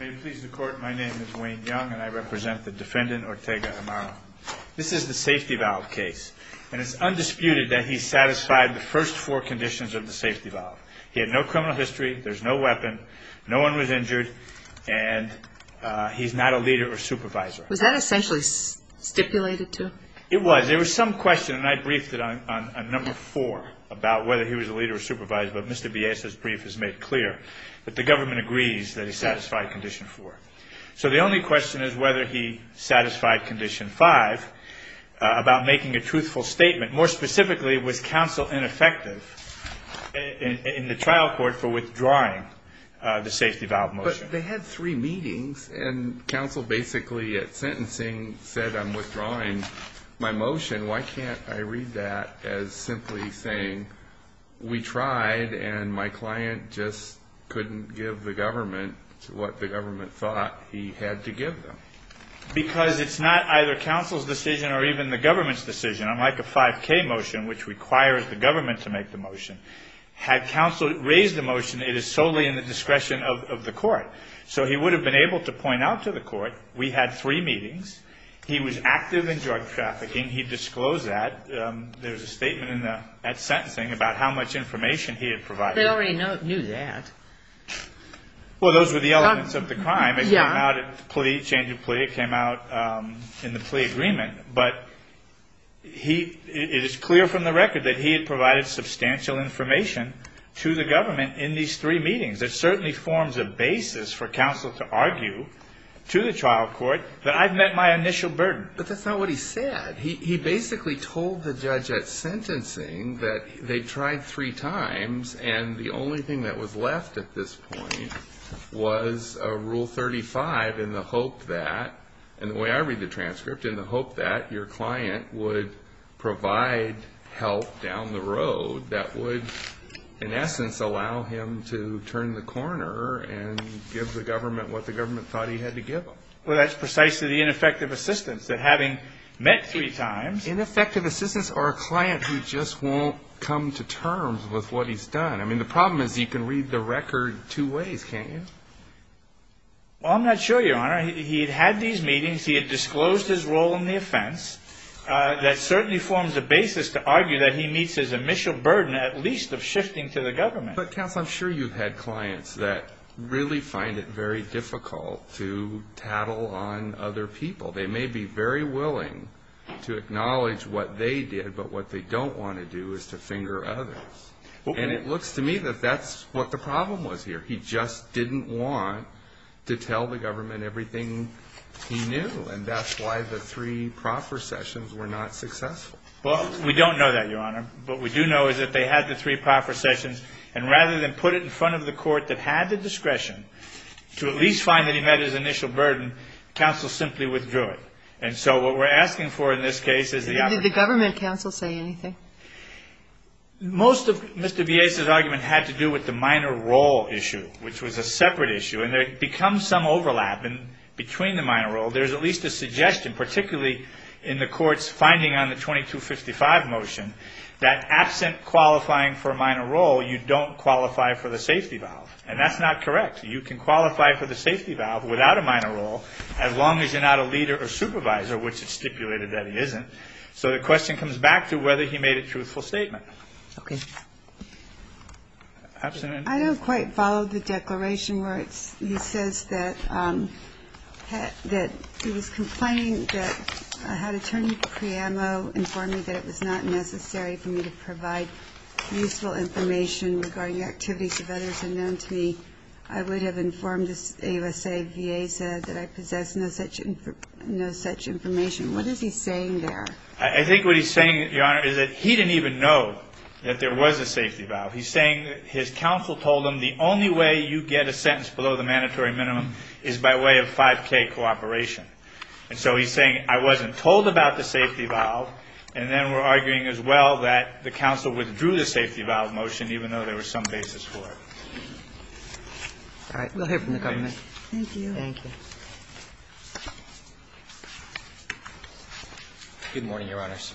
May it please the court, my name is Wayne Young and I represent the defendant Ortega-Amaro. This is the safety valve case, and it's undisputed that he satisfied the first four conditions of the safety valve. He had no criminal history, there's no weapon, no one was injured, and he's not a leader or supervisor. Was that essentially stipulated, too? It was. There was some question, and I briefed it on number four about whether he was a leader or supervisor, but Mr. Biesa's brief is made clear that the government agrees that he satisfied condition four. So the only question is whether he satisfied condition five about making a truthful statement. More specifically, was counsel ineffective in the trial court for withdrawing the safety valve motion? But they had three meetings, and counsel basically at sentencing said, I'm withdrawing my motion. And why can't I read that as simply saying we tried and my client just couldn't give the government what the government thought he had to give them? Because it's not either counsel's decision or even the government's decision. Unlike a 5K motion, which requires the government to make the motion, had counsel raised the motion, it is solely in the discretion of the court. So he would have been able to point out to the court, we had three meetings, he was active in drug trafficking, he disclosed that, there was a statement at sentencing about how much information he had provided. They already knew that. Well, those were the elements of the crime. It came out at change of plea, it came out in the plea agreement. But it is clear from the record that he had provided substantial information to the government in these three meetings. It certainly forms a basis for counsel to argue to the trial court that I've met my initial burden. But that's not what he said. He basically told the judge at sentencing that they tried three times and the only thing that was left at this point was a Rule 35 in the hope that, and the way I read the transcript, in the hope that your client would provide help down the road that would, in essence, allow him to turn the corner and give the government what the government thought he had to give them. Well, that's precisely the ineffective assistance, that having met three times. Ineffective assistance or a client who just won't come to terms with what he's done. I mean, the problem is you can read the record two ways, can't you? Well, I'm not sure, Your Honor. He had had these meetings, he had disclosed his role in the offense. That certainly forms a basis to argue that he meets his initial burden, at least of shifting to the government. But counsel, I'm sure you've had clients that really find it very difficult to tattle on other people. They may be very willing to acknowledge what they did, but what they don't want to do is to finger others. And it looks to me that that's what the problem was here. He just didn't want to tell the government everything he knew, and that's why the three proper sessions were not successful. Well, we don't know that, Your Honor. What we do know is that they had the three proper sessions, and rather than put it in front of the court that had the discretion to at least find that he met his initial burden, counsel simply withdrew it. And so what we're asking for in this case is the opportunity. And did the government counsel say anything? Most of Mr. Villesa's argument had to do with the minor role issue, which was a separate issue. And there had become some overlap. And between the minor role, there's at least a suggestion, particularly in the Court's finding on the 2255 motion, that absent qualifying for a minor role, you don't qualify for the safety valve. And that's not correct. You can qualify for the safety valve without a minor role as long as you're not a leader or supervisor, which it's stipulated that he isn't. So the question comes back to whether he made a truthful statement. Okay. I don't quite follow the declaration where he says that he was complaining that I had attorney Priamo inform me that it was not necessary for me to provide useful information regarding activities of others unknown to me. I would have informed, as AUSA VA said, that I possess no such information. What is he saying there? I think what he's saying, Your Honor, is that he didn't even know that there was a safety valve. He's saying his counsel told him the only way you get a sentence below the mandatory minimum is by way of 5K cooperation. And so he's saying, I wasn't told about the safety valve. And then we're arguing as well that the counsel withdrew the safety valve motion, even though there was some basis for it. All right. We'll hear from the government. Thank you. Thank you. Good morning, Your Honors.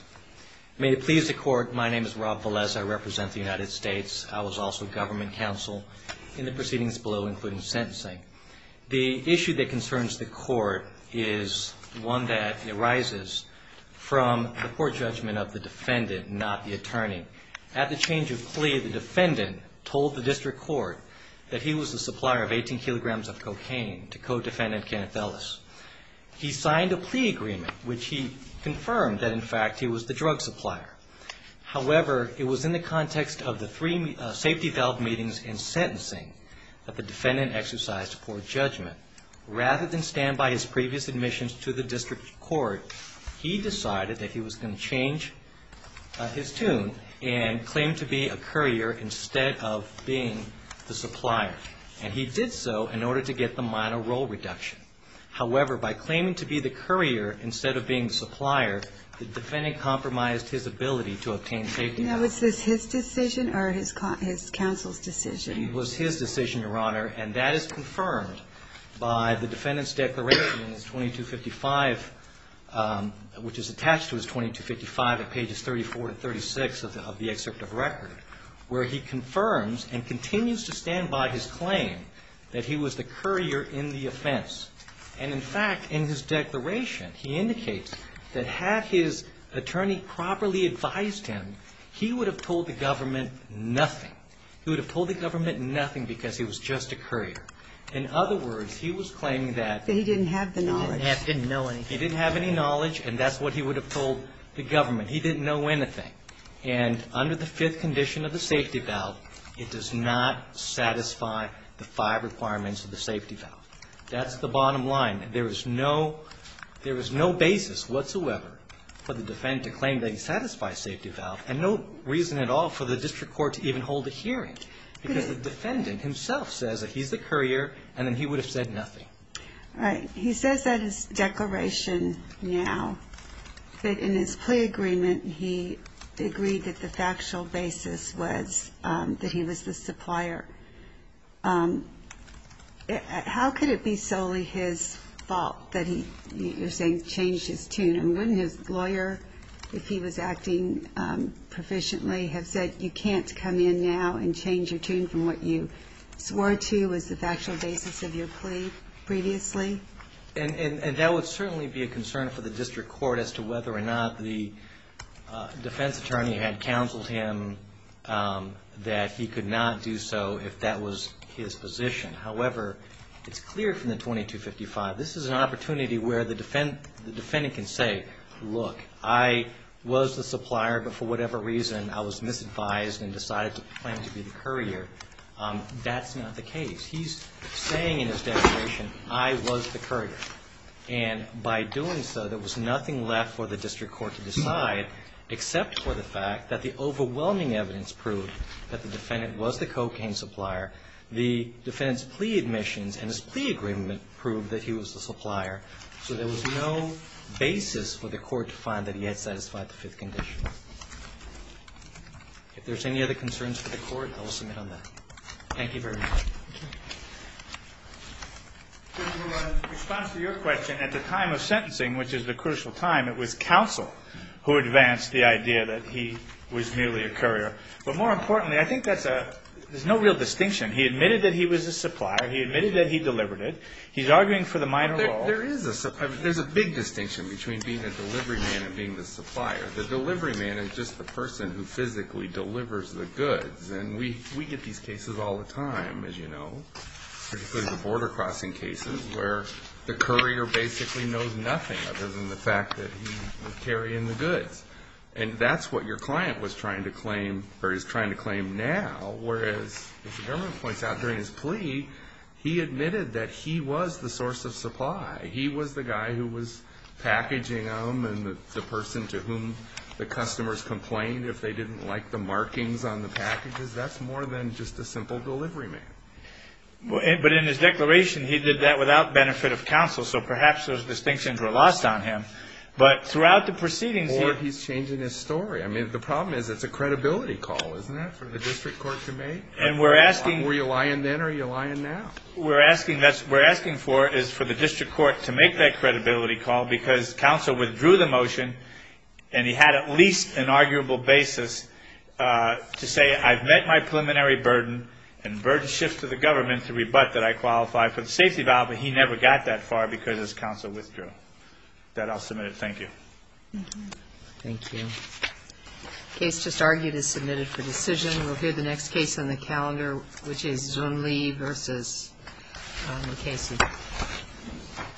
May it please the Court, my name is Rob Velez. I represent the United States. I was also government counsel in the proceedings below, including sentencing. The issue that concerns the Court is one that arises from the court judgment of the defendant, not the attorney. At the change of plea, the defendant told the district court that he was the supplier of 18 kilograms of cocaine to co-defendant Kenneth Ellis. He signed a plea agreement, which he confirmed that, in fact, he was the drug supplier. However, it was in the context of the three safety valve meetings and sentencing that the defendant exercised poor judgment. Rather than stand by his previous admissions to the district court, he decided that he was going to change his tune and claim to be a courier instead of being the supplier. And he did so in order to get the minor role reduction. However, by claiming to be the courier instead of being the supplier, the defendant compromised his ability to obtain safety. Now, is this his decision or his counsel's decision? It was his decision, Your Honor, and that is confirmed by the defendant's declaration in his 2255, which is attached to his 2255 at pages 34 to 36 of the excerpt of record, where he confirms and continues to stand by his claim that he was the courier in the offense. And, in fact, in his declaration, he indicates that had his attorney properly advised him, he would have told the government nothing. He would have told the government nothing because he was just a courier. In other words, he was claiming that he didn't have the knowledge. He didn't know anything. He didn't have any knowledge, and that's what he would have told the government. He didn't know anything. And under the fifth condition of the safety valve, it does not satisfy the five requirements of the safety valve. That's the bottom line. There is no basis whatsoever for the defendant to claim that he satisfies safety valve, and no reason at all for the district court to even hold a hearing because the defendant himself says that he's the courier, and then he would have said nothing. All right. He says that in his declaration now that in his plea agreement he agreed that the factual basis was that he was the supplier. How could it be solely his fault that he, you're saying, changed his tune? And wouldn't his lawyer, if he was acting proficiently, have said you can't come in now and change your tune from what you swore to was the factual basis of your plea previously? And that would certainly be a concern for the district court as to whether or not the defense attorney had counseled him that he could not do so if that was his position. However, it's clear from the 2255, this is an opportunity where the defendant can say, look, I was the supplier, but for whatever reason I was misadvised and decided to claim to be the courier. That's not the case. He's saying in his declaration I was the courier. And by doing so, there was nothing left for the district court to decide except for the fact that the overwhelming evidence proved that the defendant was the cocaine supplier. The defendant's plea admissions and his plea agreement proved that he was the supplier. So there was no basis for the court to find that he had satisfied the Fifth Condition. If there's any other concerns for the court, I will submit on that. Thank you very much. Thank you. In response to your question, at the time of sentencing, which is the crucial time, it was counsel who advanced the idea that he was merely a courier. But more importantly, I think that's a – there's no real distinction. He admitted that he was a supplier. He admitted that he delivered it. He's arguing for the minor law. There is a – there's a big distinction between being a delivery man and being the supplier. The delivery man is just the person who physically delivers the goods. And we get these cases all the time, as you know, particularly the border crossing cases, where the courier basically knows nothing other than the fact that he was carrying the goods. And that's what your client was trying to claim or is trying to claim now, whereas, as the government points out during his plea, he admitted that he was the source of supply. He was the guy who was packaging them and the person to whom the customers complained if they didn't like the markings on the packages. That's more than just a simple delivery man. But in his declaration, he did that without benefit of counsel, so perhaps those distinctions were lost on him. But throughout the proceedings, he – Or he's changing his story. I mean, the problem is it's a credibility call, isn't it, for the district court to make? And we're asking – Were you lying then or are you lying now? We're asking for it is for the district court to make that credibility call because counsel withdrew the motion, and he had at least an arguable basis to say, I've met my preliminary burden, and burden shifts to the government to rebut that I qualify for the safety valve, but he never got that far because his counsel withdrew. With that, I'll submit it. Thank you. Thank you. The case just argued is submitted for decision. We'll hear the next case on the calendar, which is Zun Li v. Mukasey.